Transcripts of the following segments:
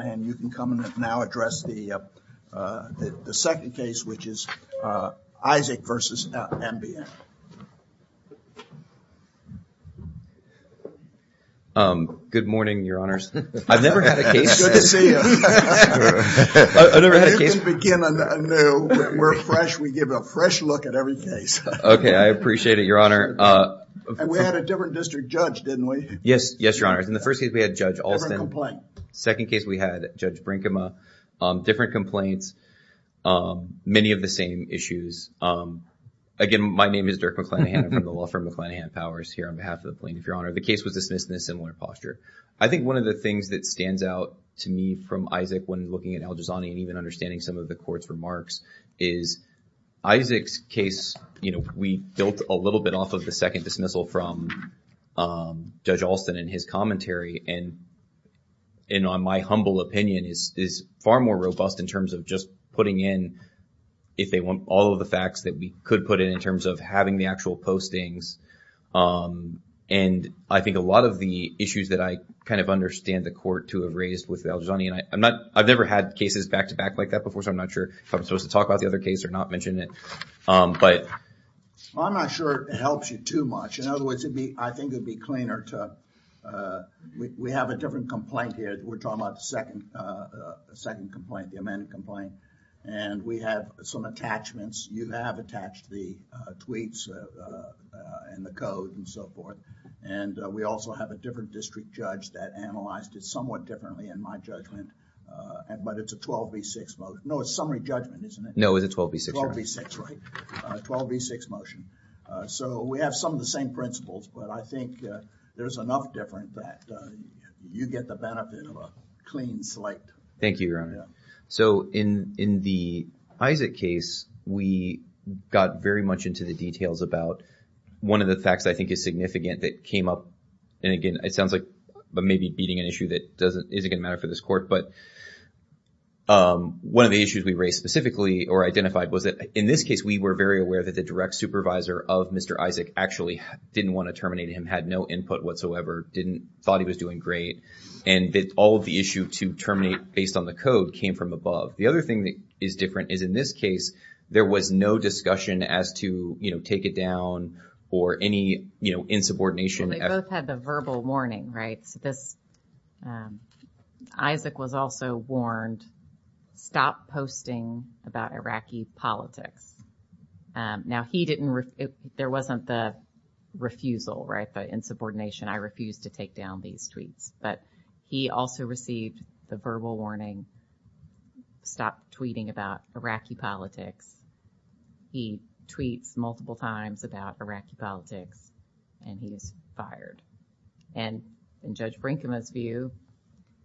And you can come and now address the second case, which is Isaac v. MBN. Good morning, Your Honors. I've never had a case. Good to see you. I've never had a case. You can begin anew. We're fresh. We give a fresh look at every case. Okay. I appreciate it, Your Honor. And we had a different district judge, didn't we? Yes. Yes, Your Honors. In the first case, we had Judge Alston. Never complained. Second case, we had Judge Brinkema. Different complaints. Many of the same issues. Again, my name is Dirk McClanahan. I'm from the law firm McClanahan Powers here on behalf of the plaintiff, Your Honor. The case was dismissed in a similar posture. I think one of the things that stands out to me from Isaac when looking at Al-Jazani and even understanding some of the court's remarks is Isaac's case, you know, we built a little bit off of the second dismissal from Judge Alston and his commentary and my humble opinion is far more robust in terms of just putting in, if they want, all of the facts that we could put in, in terms of having the actual postings and I think a lot of the issues that I kind of understand the court to have raised with Al-Jazani and I've never had cases back to back like that before, so I'm not sure if I'm supposed to talk about the other case or not mention it. Um, but... I'm not sure it helps you too much. In other words, it'd be, I think it'd be cleaner to, uh, we, we have a different complaint here. We're talking about the second, uh, second complaint, the amended complaint and we have some attachments. You have attached the, uh, tweets, uh, uh, and the code and so forth and, uh, we also have a different district judge that analyzed it somewhat differently in my judgment, uh, but it's a 12B6 vote. No, it's a summary judgment, isn't it? No, it's a 12B6. 12B6, right. Uh, 12B6 motion, uh, so we have some of the same principles, but I think, uh, there's enough difference that, uh, you get the benefit of a clean slate. Thank you, Your Honor. Yeah. So, in, in the Isaac case, we got very much into the details about one of the facts I think is significant that came up, and again, it sounds like maybe beating an issue that doesn't, isn't going to matter for this court, but, um, one of the issues we raised specifically or identified was that, in this case, we were very aware that the direct supervisor of Mr. Isaac actually didn't want to terminate him, had no input whatsoever, didn't, thought he was doing great, and that all of the issue to terminate based on the code came from above. The other thing that is different is in this case, there was no discussion as to, you know, take it down or any, you know, insubordination. Well, they both had the verbal warning, right, so this, um, Isaac was also warned, stop posting about Iraqi politics. Um, now, he didn't, it, there wasn't the refusal, right, the insubordination, I refused to take down these tweets, but he also received the verbal warning, stop tweeting about Iraqi politics. He tweets multiple times about Iraqi politics, and he was fired, and in Judge Brinkman's view,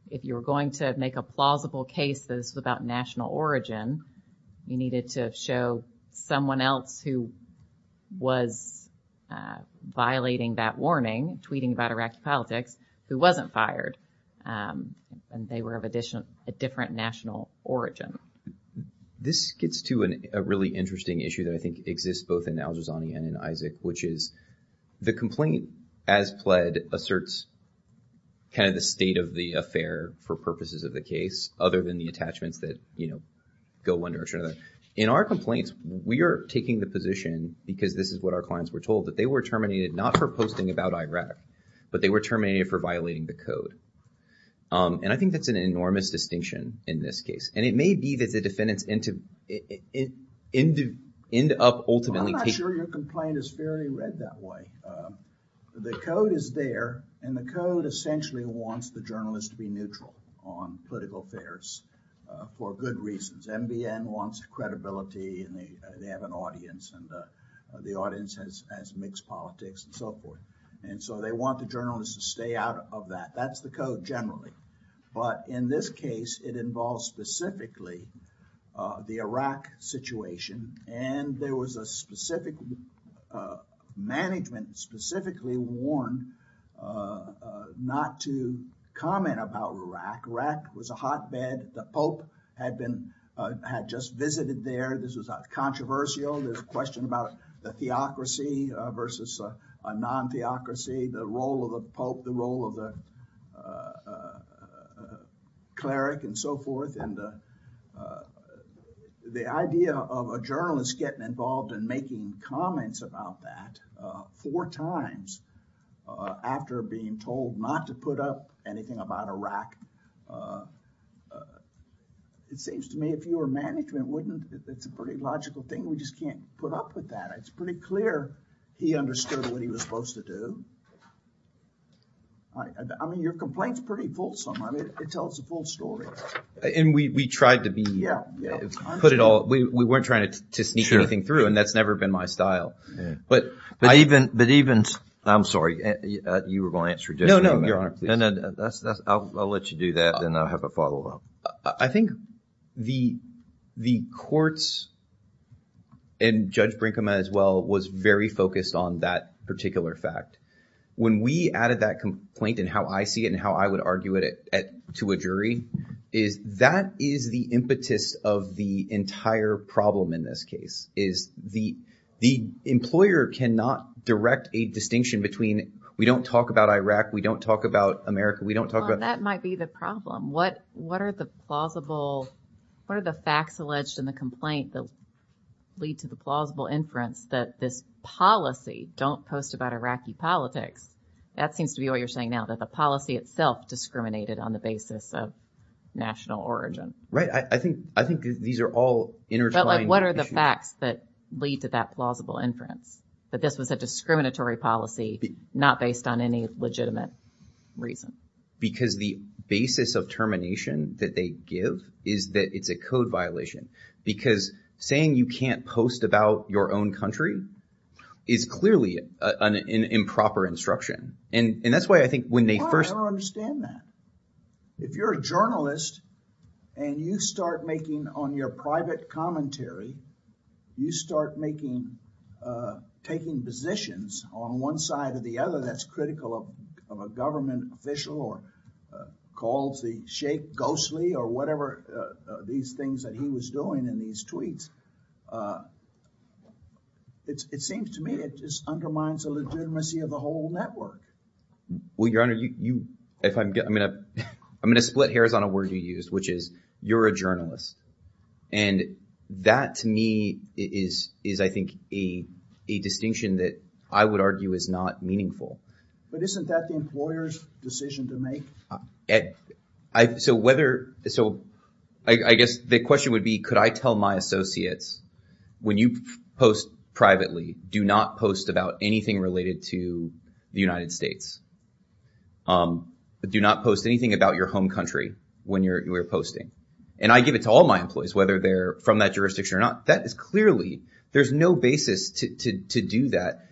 if you were going to make a plausible case that this was about national origin, you needed to show someone else who was, uh, violating that warning, tweeting about Iraqi politics, who wasn't fired, um, and they were of additional, a different national origin. This gets to a really interesting issue that I think exists both in Al-Jazani and in Isaac, which is the complaint, as pled, asserts kind of the state of the affair for purposes of the case, other than the attachments that, you know, go one direction or the other. In our complaints, we are taking the position, because this is what our clients were told, that they were terminated not for posting about Iraq, but they were terminated for violating the code. Um, and I think that's an enormous distinction in this case, and it may be that the defendants end up ultimately taking... I'm not sure your complaint is fairly read that way. The code is there, and the code essentially wants the journalist to be neutral on political affairs for good reasons. NBN wants credibility, and they have an audience, and the audience has mixed politics and so forth, and so they want the journalist to stay out of that. That's the code generally, but in this case, it involves specifically, uh, the Iraq situation, and there was a specific, uh, management specifically warned, uh, uh, not to comment about Iraq. Iraq was a hotbed. The Pope had been, uh, had just visited there. This was controversial. There's a question about the theocracy, uh, versus a non-theocracy, the role of the Pope, the role of the, uh, uh, uh, cleric and so forth, and, uh, uh, the idea of a journalist getting involved in making comments about that, uh, four times, uh, after being told not to put up anything about Iraq, uh, uh, it seems to me if you were management, wouldn't it... It's a pretty logical thing. We just can't put up with that. It's pretty clear he understood what he was supposed to do. I, I mean, your complaint's pretty fulsome. I mean, it tells the full story. And we, we tried to be... Yeah, yeah. Put it all... We, we weren't trying to, to sneak anything through, and that's never been my style. But I even... But even... I'm sorry. Uh, you were going to answer... No, no. Your Honor, please. No, no. That's, that's... I'll, I'll let you do that, and then I'll have a follow-up. Um, I, I think the, the courts, and Judge Brinkman as well, was very focused on that particular fact. When we added that complaint, and how I see it, and how I would argue it at, at, to a jury, is that is the impetus of the entire problem in this case, is the, the employer cannot direct a distinction between, we don't talk about Iraq, we don't talk about America, we don't talk about... Well, that might be the problem. Um, what, what are the plausible, what are the facts alleged in the complaint that lead to the plausible inference that this policy, don't post about Iraqi politics, that seems to be what you're saying now, that the policy itself discriminated on the basis of national origin? Right. I, I think, I think these are all intertwined issues. But like, what are the facts that lead to that plausible inference, that this was a discriminatory policy, not based on any legitimate reason? Because the basis of termination that they give is that it's a code violation. Because saying you can't post about your own country is clearly an, an improper instruction. And that's why I think when they first... I don't understand that. If you're a journalist, and you start making on your private commentary, you start making, uh, taking positions on one side or the other, that's critical of a government official or calls the shape ghostly or whatever, uh, these things that he was doing in these tweets. Uh, it's, it seems to me it just undermines the legitimacy of the whole network. Well, your honor, you, you, if I'm going to, I'm going to split hairs on a word you used, which is you're a journalist. And that to me is, is I think a, a distinction that I would argue is not meaningful. But isn't that the employer's decision to make? Ed, I, so whether, so I, I guess the question would be, could I tell my associates, when you post privately, do not post about anything related to the United States. Um, do not post anything about your home country when you're, you're posting. And I give it to all my employees, whether they're from that jurisdiction or not. That is clearly, there's no basis to, to, to do that.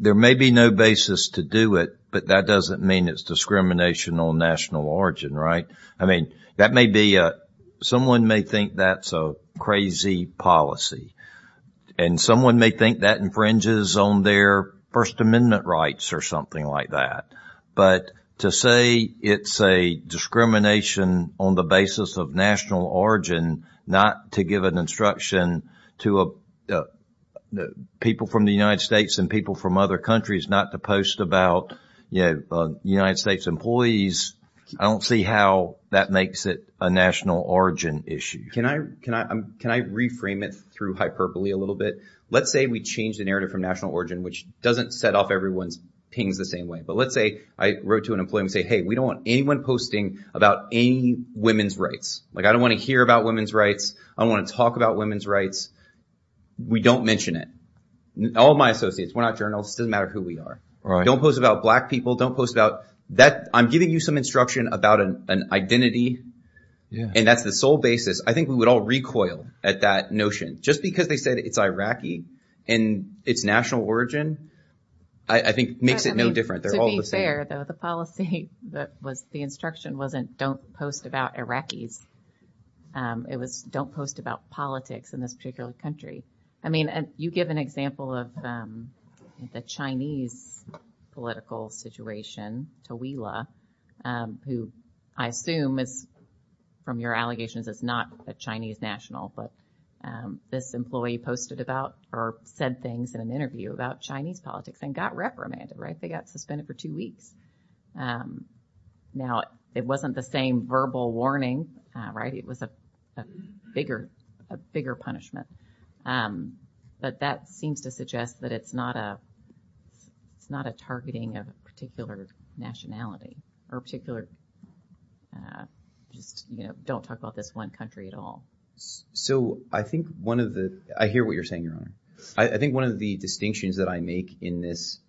There may be no basis to do it, but that doesn't mean it's discrimination on national origin, right? I mean, that may be, uh, someone may think that's a crazy policy and someone may think that infringes on their first amendment rights or something like that. But to say it's a discrimination on the basis of national origin, not to give an instruction to, uh, uh, people from the United States and people from other countries, not to post about, you know, uh, United States employees. I don't see how that makes it a national origin issue. Can I, can I, um, can I reframe it through hyperbole a little bit? Let's say we change the narrative from national origin, which doesn't set off everyone's pings the same way. But let's say I wrote to an employee and say, Hey, we don't want anyone posting about any women's rights. Like, I don't want to hear about women's rights. I don't want to talk about women's rights. We don't mention it. All my associates, we're not journalists. It doesn't matter who we are. Don't post about black people. Don't post about that. I'm giving you some instruction about an identity and that's the sole basis. I think we would all recoil at that notion just because they said it's Iraqi and it's national origin, I think makes it no different. The policy that was the instruction wasn't don't post about Iraqis. Um, it was don't post about politics in this particular country. I mean, you give an example of, um, the Chinese political situation, Tawila, um, who I assume is from your allegations is not a Chinese national, but, um, this employee posted about or said things in an interview about Chinese politics and got reprimanded, right? They got suspended for two weeks. Um, now it wasn't the same verbal warning, right? It was a bigger, a bigger punishment. Um, but that seems to suggest that it's not a, it's not a targeting of particular nationality or particular, uh, just, you know, don't talk about this one country at all. So I think one of the, I hear what you're saying, Your Honor. I think one of the distinctions that I make in this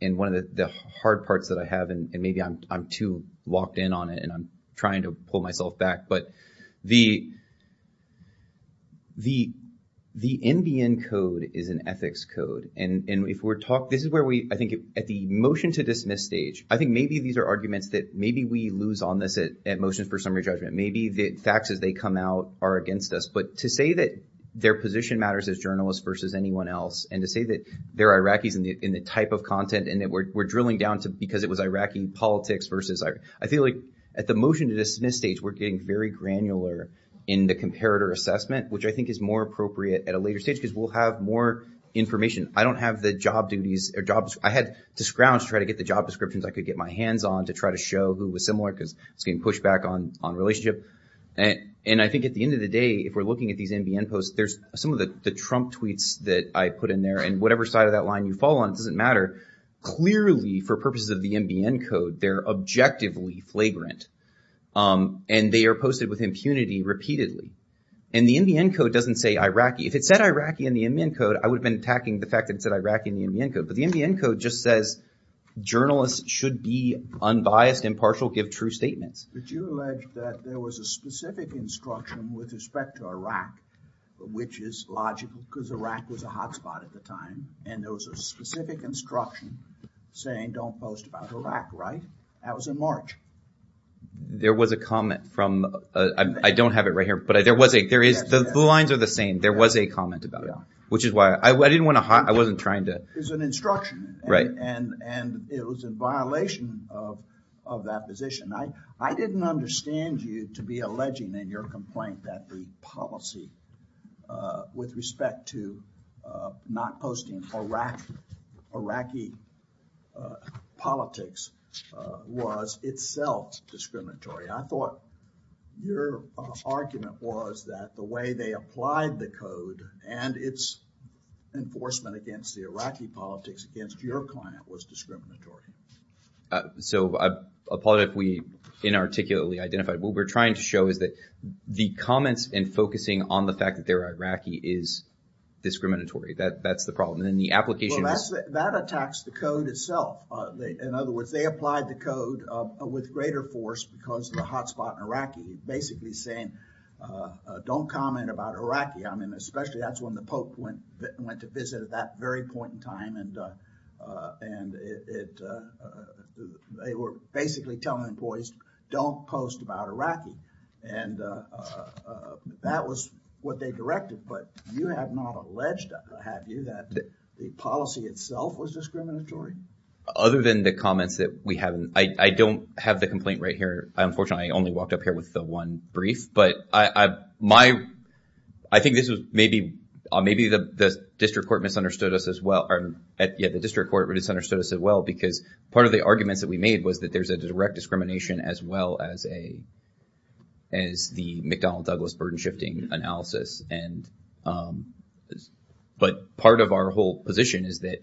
and one of the hard parts that I have, and maybe I'm, I'm too locked in on it and I'm trying to pull myself back. But the, the, the NBN code is an ethics code. And if we're talking, this is where we, I think at the motion to dismiss stage, I think maybe these are arguments that maybe we lose on this at motions for summary judgment. Maybe the facts as they come out are against us. But to say that their position matters as journalists versus anyone else. And to say that they're Iraqis in the, in the type of content and that we're drilling down to because it was Iraqi politics versus, I feel like at the motion to dismiss stage, we're getting very granular in the comparator assessment, which I think is more appropriate at a later stage because we'll have more information. I don't have the job duties or jobs. I had to scrounge to try to get the job descriptions. I could get my hands on to try to show who was similar because it's getting pushed back on, on relationship. And I think at the end of the day, if we're looking at these NBN posts, there's some of the, the Trump tweets that I put in there and whatever side of that line you fall on, it doesn't matter. Clearly for purposes of the NBN code, they're objectively flagrant. And they are posted with impunity repeatedly. And the NBN code doesn't say Iraqi. If it said Iraqi in the NBN code, I would have been attacking the fact that it said Iraqi in the NBN code. But the NBN code just says journalists should be unbiased, impartial, give true statements. Did you allege that there was a specific instruction with respect to Iraq, which is logical because Iraq was a hotspot at the time and there was a specific instruction saying don't post about Iraq, right? That was in March. There was a comment from, I don't have it right here, but there was a, there is, the lines are the same. There was a comment about it, which is why I didn't want to, I wasn't trying to. It's an instruction. Right. And, and it was in violation of, of that position. I didn't understand you to be alleging in your complaint that the policy, uh, with respect to, uh, not posting Iraq, Iraqi, uh, politics, uh, was itself discriminatory. I thought your argument was that the way they applied the code and its enforcement against the Iraqi politics against your client was discriminatory. Uh, so I apologize if we inarticulately identified. What we're trying to show is that the comments and focusing on the fact that they're Iraqi is discriminatory. That, that's the problem. And then the application... Well, that's, that attacks the code itself. In other words, they applied the code, uh, with greater force because of the hotspot in Iraqi, basically saying, uh, uh, don't comment about Iraqi. I mean, especially that's when the Pope went, went to visit at that very point in time. And, uh, uh, and it, it, uh, they were basically telling employees don't post about Iraqi. And, uh, uh, that was what they directed. But you have not alleged, have you, that the policy itself was discriminatory? Other than the comments that we haven't, I, I don't have the complaint right here. Unfortunately, I only walked up here with the one brief, but I, I, my, I think this maybe, uh, maybe the, the district court misunderstood us as well, or yeah, the district court misunderstood us as well, because part of the arguments that we made was that there's a direct discrimination as well as a, as the McDonnell Douglas burden shifting analysis. And, um, but part of our whole position is that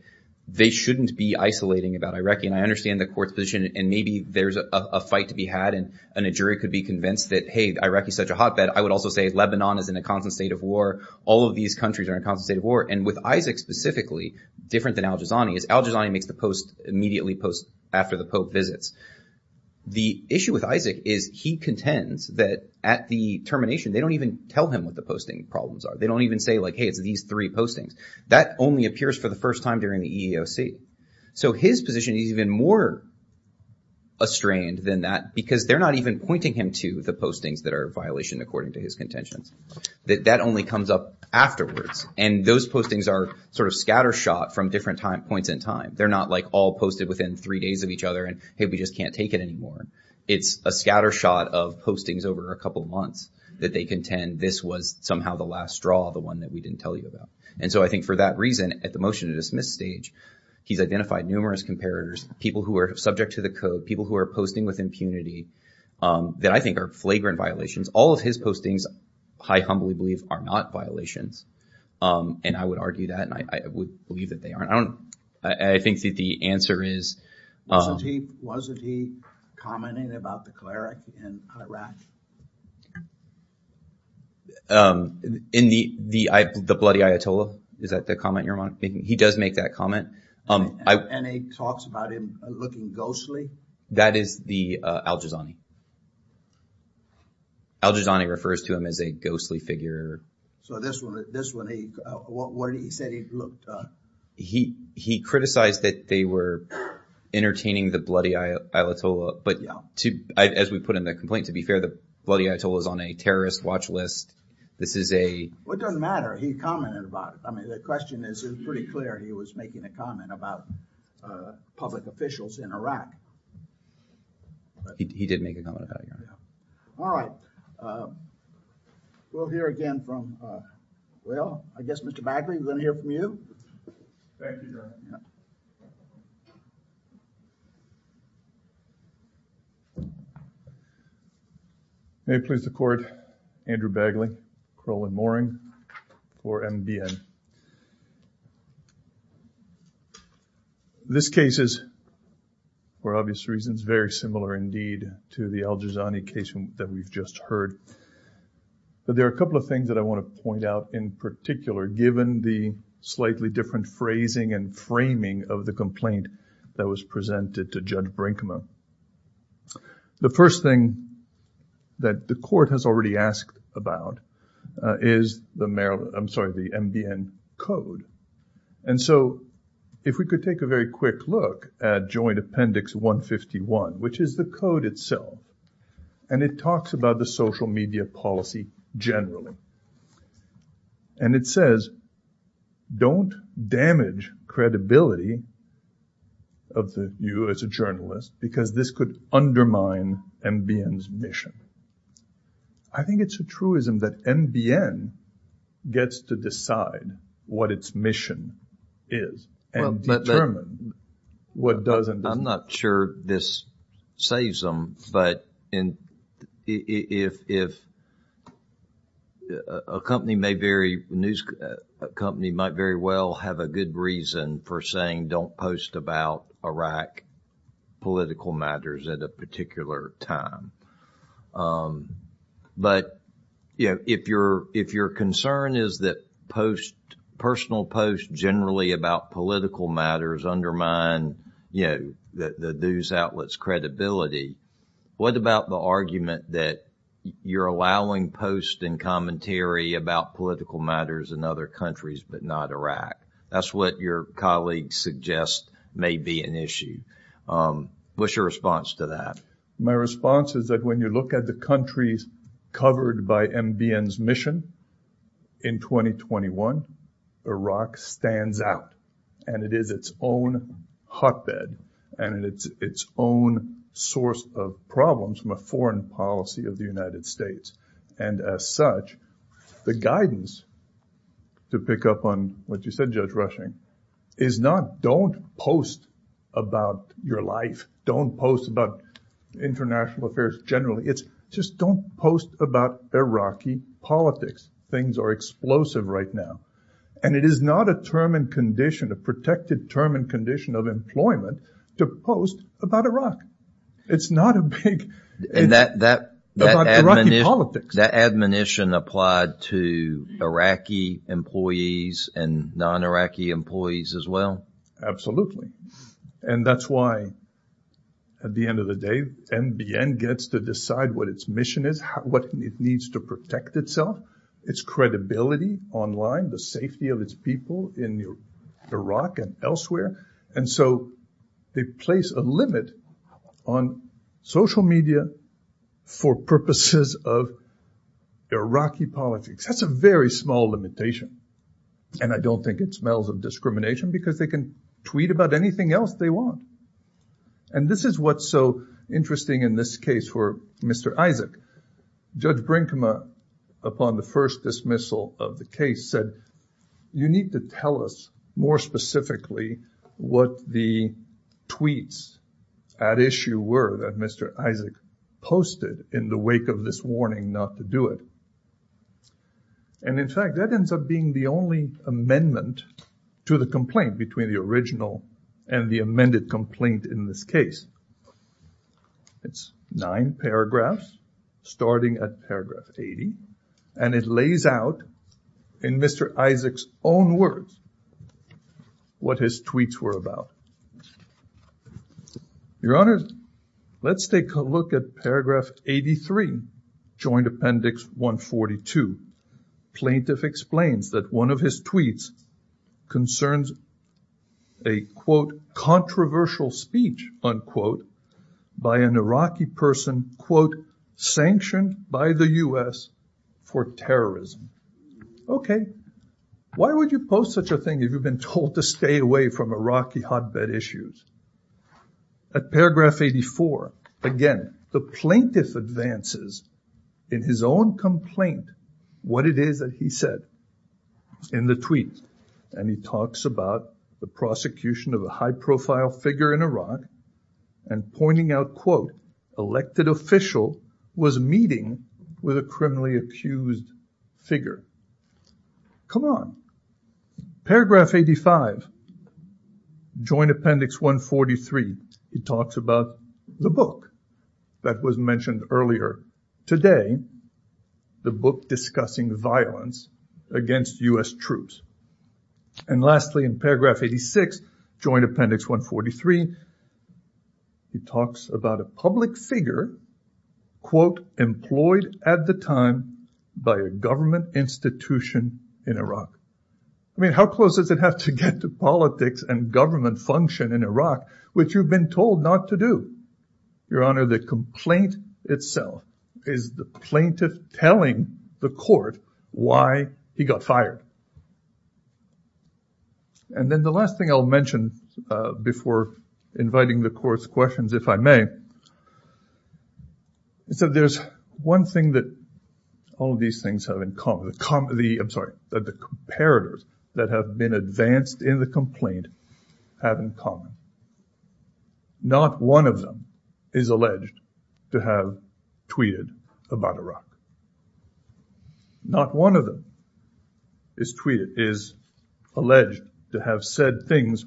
they shouldn't be isolating about Iraqi. And I understand the court's position, and maybe there's a fight to be had and a jury could be convinced that, hey, Iraqi is such a hotbed. And I would also say Lebanon is in a constant state of war. All of these countries are in a constant state of war. And with Isaac specifically, different than Al-Jazani, is Al-Jazani makes the post immediately post after the Pope visits. The issue with Isaac is he contends that at the termination, they don't even tell him what the posting problems are. They don't even say like, hey, it's these three postings. That only appears for the first time during the EEOC. So his position is even more estranged than that because they're not even pointing him to the postings that are a violation according to his contentions. That only comes up afterwards. And those postings are sort of scattershot from different points in time. They're not like all posted within three days of each other and, hey, we just can't take it anymore. It's a scattershot of postings over a couple of months that they contend this was somehow the last straw, the one that we didn't tell you about. And so I think for that reason, at the motion to dismiss stage, he's identified numerous comparators, people who are subject to the code, people who are posting with impunity, that I think are flagrant violations. All of his postings, I humbly believe, are not violations. And I would argue that. And I would believe that they aren't. I don't know. I think that the answer is... Wasn't he commenting about the cleric in Iraq? In the bloody Ayatollah? Is that the comment you're making? He does make that comment. And he talks about him looking ghostly? That is the al-Jazani. Al-Jazani refers to him as a ghostly figure. So this one, he said he looked... He criticized that they were entertaining the bloody Ayatollah. But as we put in the complaint, to be fair, the bloody Ayatollah is on a terrorist watch list. This is a... What doesn't matter? He commented about it. I mean, the question is, it's pretty clear he was making a comment about public officials in Iraq. He did make a comment about it, yeah. All right. We'll hear again from... Well, I guess Mr. Bagley, we're going to hear from you. Thank you, Your Honor. May it please the Court, Andrew Bagley, Crowley Mooring for MBN. This case is, for obvious reasons, very similar indeed to the al-Jazani case that we've just heard. But there are a couple of things that I want to point out in particular, given the slightly different phrasing and framing of the complaint that was presented to Judge Brinkman. The first thing that the Court has already asked about is the Maryland... I'm sorry, the MBN case. Code. And so, if we could take a very quick look at Joint Appendix 151, which is the code itself. And it talks about the social media policy generally. And it says, don't damage credibility of you as a journalist, because this could undermine MBN's mission. I think it's a truism that MBN gets to decide what its mission is and determine what doesn't. I'm not sure this saves them. But if a company may very... A company might very well have a good reason for saying, don't post about Iraq political matters at a particular time. But, you know, if your concern is that post, personal posts generally about political matters undermine, you know, the news outlet's credibility, what about the argument that you're allowing posts and commentary about political matters in other countries, but not Iraq? That's what your colleague suggests may be an issue. What's your response to that? My response is that when you look at the countries covered by MBN's mission in 2021, Iraq stands out. And it is its own hotbed. And it's its own source of problems from a foreign policy of the United States. And as such, the guidance to pick up on what you said, Judge Rushing, is not don't post about your life. Don't post about international affairs generally. It's just don't post about Iraqi politics. Things are explosive right now. And it is not a term and condition, a protected term and condition of employment to post about Iraq. It's not a big... That admonition applied to Iraqi employees and non-Iraqi employees as well? Absolutely. And that's why, at the end of the day, MBN gets to decide what its mission is, what it needs to protect itself, its credibility online, the safety of its people in Iraq and elsewhere. And so they place a limit on social media for purposes of Iraqi politics. That's a very small limitation. And I don't think it smells of discrimination because they can tweet about anything else they want. And this is what's so interesting in this case for Mr. Isaac. Judge Brinkman, upon the first dismissal of the case said, you need to tell us more specifically what the tweets at issue were that Mr. Isaac posted in the wake of this warning not to do it. And in fact, that ends up being the only amendment to the complaint between the original and the amended complaint in this case. It's nine paragraphs starting at paragraph 80. And it lays out in Mr. Isaac's own words what his tweets were about. Your Honor, let's take a look at paragraph 83, Joint Appendix 142. Plaintiff explains that one of his tweets concerns a, quote, controversial speech, unquote, by an Iraqi person, quote, sanctioned by the US for terrorism. OK, why would you post such a thing if you've been told to stay away from Iraqi hotbed issues? At paragraph 84, again, the plaintiff advances in his own complaint, what it is that he said in the tweet. And he talks about the prosecution of a high profile figure in Iraq and pointing out, quote, elected official was meeting with a criminally accused figure. Come on. Paragraph 85, Joint Appendix 143, he talks about the book that was mentioned earlier today, the book discussing violence against US troops. And lastly, in paragraph 86, Joint Appendix 143, he talks about a public figure, quote, government institution in Iraq. I mean, how close does it have to get to politics and government function in Iraq, which you've been told not to do? Your Honor, the complaint itself is the plaintiff telling the court why he got fired. And then the last thing I'll mention before inviting the court's questions, if I may, is that there's one thing that all of these things have in common, the com, the, I'm sorry, that the comparators that have been advanced in the complaint have in common. Not one of them is alleged to have tweeted about Iraq. Not one of them is tweeted, is alleged to have said things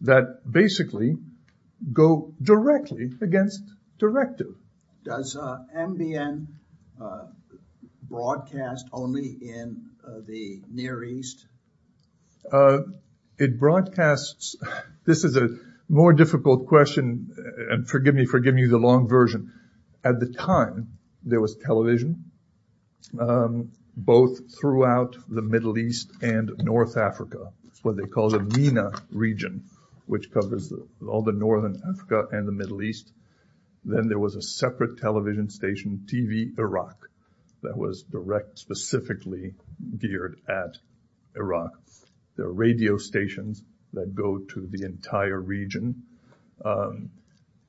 that basically go directly against directive. Does MBN broadcast only in the Near East? It broadcasts, this is a more difficult question, and forgive me for giving you the long version. At the time, there was television, um, both throughout the Middle East and North Africa, what they call the MENA region, which covers all the Northern Africa and the Middle East. Then there was a separate television station, TV Iraq, that was direct specifically geared at Iraq. There are radio stations that go to the entire region. Um,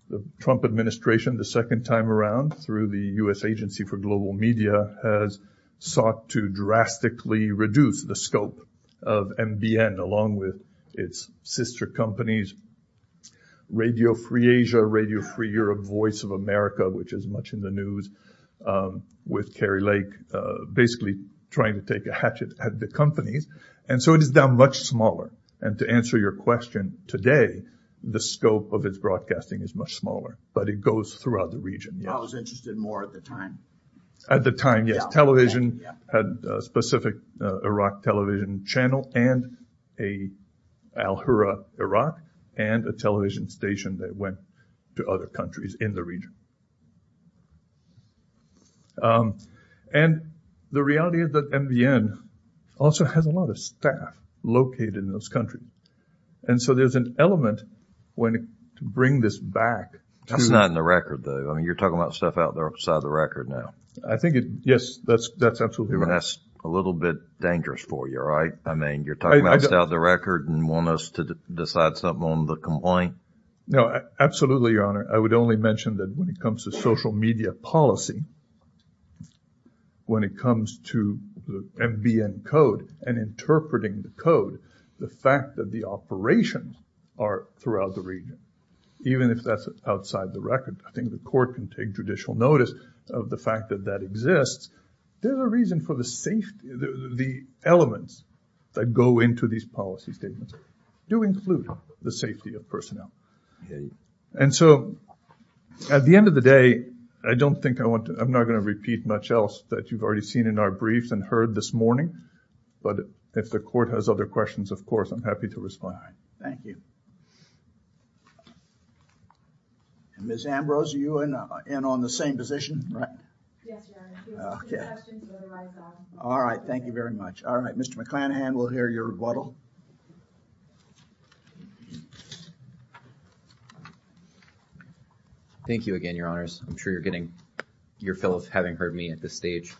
the Trump administration, the second time around, through the U.S. Agency for Global Media, has sought to drastically reduce the scope of MBN, along with its sister companies, Radio Free Asia, Radio Free Europe, Voice of America, which is much in the news, with Kerry Lake, basically trying to take a hatchet at the companies. And so it is now much smaller. And to answer your question today, the scope of its broadcasting is much smaller, but it goes throughout the region. I was interested more at the time. At the time, yes, television had a specific Iraq television channel and a Al Hurra Iraq and a television station that went to other countries in the region. Um, and the reality is that MBN also has a lot of staff located in those countries. And so there's an element when to bring this back. That's not in the record, though. I mean, you're talking about stuff out there outside the record now. I think it, yes, that's, that's absolutely right. That's a little bit dangerous for you, right? I mean, you're talking about outside the record and want us to decide something on the complaint? No, absolutely, Your Honor. I would only mention that when it comes to the MENA, comes to social media policy, when it comes to the MBN code and interpreting the code, the fact that the operations are throughout the region, even if that's outside the record, I think the court can take judicial notice of the fact that that exists. There's a reason for the safety, the elements that go into these policy statements do include the safety of personnel. Yeah, and so at the end of the day, I don't think I want to, I'm not going to repeat much else that you've already seen in our briefs and heard this morning. But if the court has other questions, of course, I'm happy to respond. Thank you. Ms. Ambrose, are you in on the same position? All right, thank you very much. All right, Mr. McClanahan, we'll hear your rebuttal. Thank you again, Your Honors. I'm sure you're getting your fill of having heard me at this stage.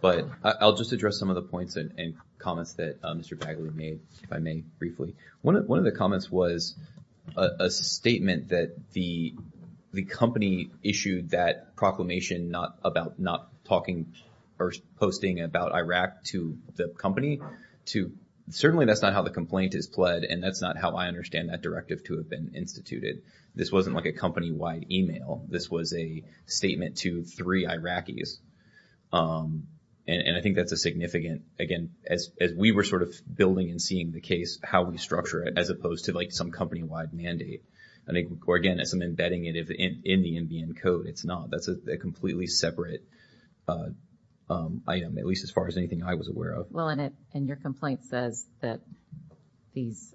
But I'll just address some of the points and comments that Mr. Bagley made, if I may, briefly. One of the comments was a statement that the company issued that proclamation not about not talking or posting about Iraq to the company. Certainly, that's not how the complaint is pled, and that's not how I understand that directive to have been instituted. This wasn't like a company-wide email. This was a statement to three Iraqis. And I think that's a significant, again, as we were sort of building and seeing the case, how we structure it, as opposed to like some company-wide mandate. And again, as I'm embedding it in the NBN code, it's not. That's a completely separate item, at least as far as anything I was aware of. Well, and your complaint says that these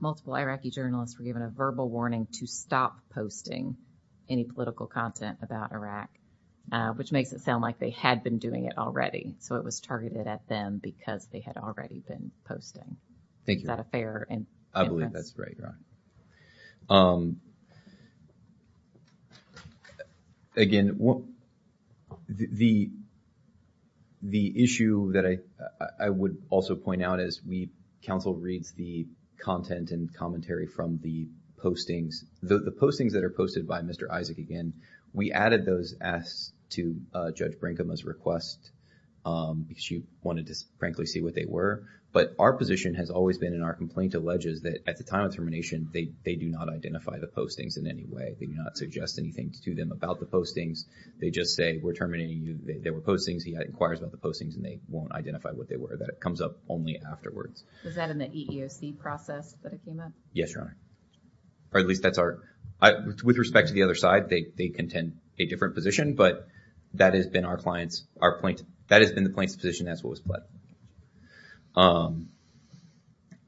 multiple Iraqi journalists were given a verbal warning to stop posting any political content about Iraq, which makes it sound like they had been doing it already. So it was targeted at them because they had already been posting. Thank you. Is that a fair inference? I believe that's right, Your Honor. Um, again, the issue that I would also point out is we counsel reads the content and commentary from the postings. The postings that are posted by Mr. Isaac, again, we added those as to Judge Brinkham's request because she wanted to frankly see what they were. But our position has always been in our complaint alleges that at the time of termination, they do not identify the postings in any way. They do not suggest anything to them about the postings. They just say, we're terminating you. There were postings. He inquires about the postings and they won't identify what they were. That comes up only afterwards. Was that in the EEOC process that it came up? Yes, Your Honor. Or at least that's our... With respect to the other side, they contend a different position. But that has been our client's... Our point... That has been the plaintiff's position. That's what was pledged.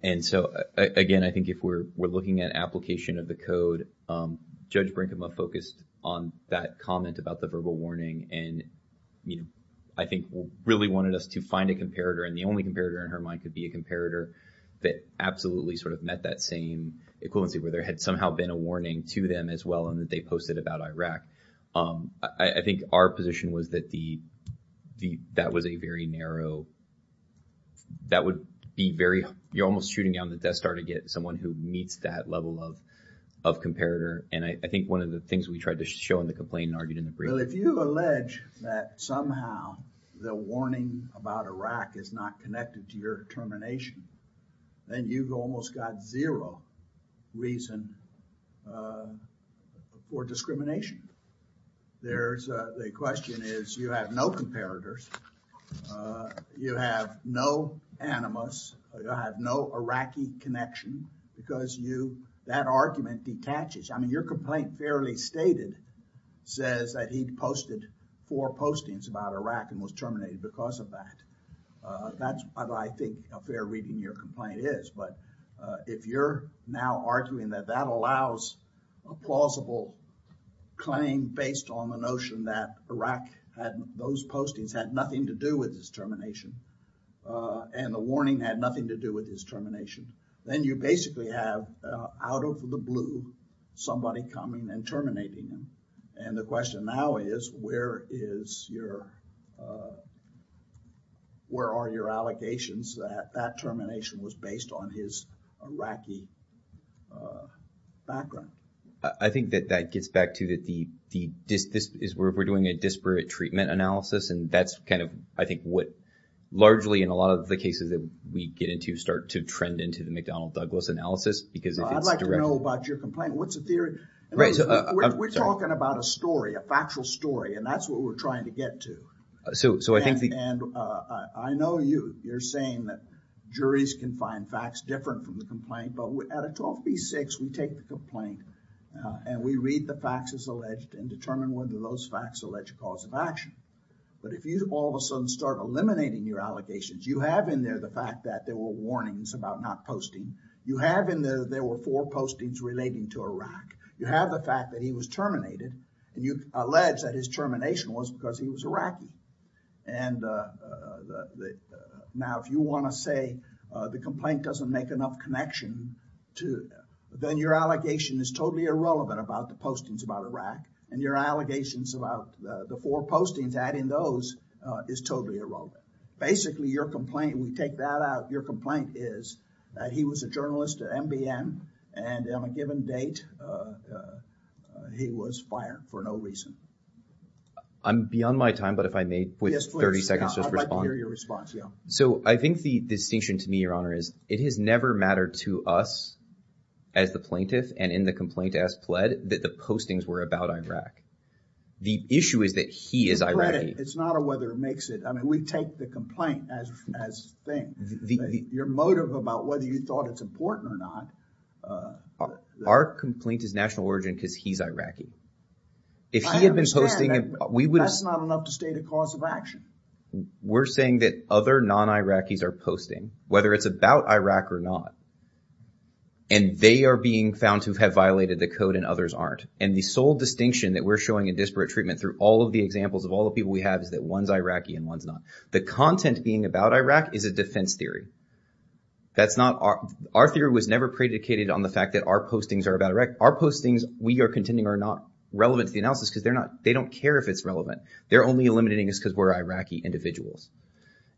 And so, again, I think if we're looking at application of the code, Judge Brinkham focused on that comment about the verbal warning. And I think really wanted us to find a comparator. And the only comparator in her mind could be a comparator that absolutely met that same equivalency where there had somehow been a warning to them as well and that they posted about Iraq. I think our position was that that was a very narrow... That would be very... You're almost shooting down the death star to get someone who meets that level of comparator. And I think one of the things we tried to show in the complaint argued in the brief... Well, if you allege that somehow the warning about Iraq is not connected to your termination, then you've almost got zero reason for discrimination. There's a... The question is you have no comparators, you have no animus, you have no Iraqi connection because you... That argument detaches. I mean, your complaint fairly stated says that he posted four postings about Iraq and was terminated because of that. That's what I think a fair reading your complaint is. If you're now arguing that that allows a plausible claim based on the notion that Iraq had... Those postings had nothing to do with this termination and the warning had nothing to do with this termination, then you basically have out of the blue somebody coming and terminating them. And the question now is where is your... Where are your allegations that that termination was based on his Iraqi background? I think that that gets back to that the... This is where we're doing a disparate treatment analysis. And that's kind of, I think, what largely in a lot of the cases that we get into start to trend into the McDonnell Douglas analysis because it's... I'd like to know about your complaint. What's the theory? Right. We're talking about a story, a factual story. And that's what we're trying to get to. So I think the... And I know you, you're saying that juries can find facts different from the complaint, but at a 12 v. 6, we take the complaint and we read the facts as alleged and determine whether those facts allege cause of action. But if you all of a sudden start eliminating your allegations, you have in there the fact that there were warnings about not posting. You have in there, there were four postings relating to Iraq. You have the fact that he was terminated and you allege that his termination was because he was Iraqi. And now if you want to say the complaint doesn't make enough connection to... Then your allegation is totally irrelevant about the postings about Iraq and your allegations about the four postings adding those is totally irrelevant. Basically, your complaint, we take that out. Your complaint is that he was a journalist at NBN and on a given date, he was fired for no reason. I'm beyond my time, but if I may, with 30 seconds, just respond. I'd like to hear your response, yeah. So I think the distinction to me, Your Honor, is it has never mattered to us as the plaintiff and in the complaint as pled that the postings were about Iraq. The issue is that he is Iraqi. It's not a whether it makes it. We take the complaint as thing. Your motive about whether you thought it's important or not. Our complaint is national origin because he's Iraqi. If he had been posting, we would have... That's not enough to state a cause of action. We're saying that other non-Iraqis are posting, whether it's about Iraq or not, and they are being found to have violated the code and others aren't. And the sole distinction that we're showing in disparate treatment through all of the The content being about Iraq is a defense theory. That's not... Our theory was never predicated on the fact that our postings are about Iraq. Our postings, we are contending, are not relevant to the analysis because they're not... They don't care if it's relevant. They're only eliminating us because we're Iraqi individuals.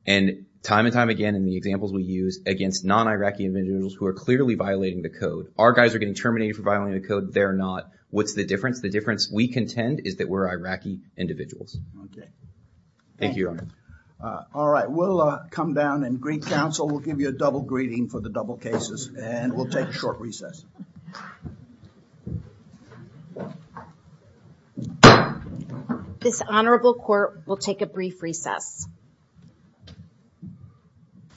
And time and time again, in the examples we use against non-Iraqi individuals who are clearly violating the code, our guys are getting terminated for violating the code. They're not. What's the difference? The difference, we contend, is that we're Iraqi individuals. Okay. Thank you, Your Honor. All right. We'll come down and greet counsel. We'll give you a double greeting for the double cases and we'll take a short recess. This honorable court will take a brief recess.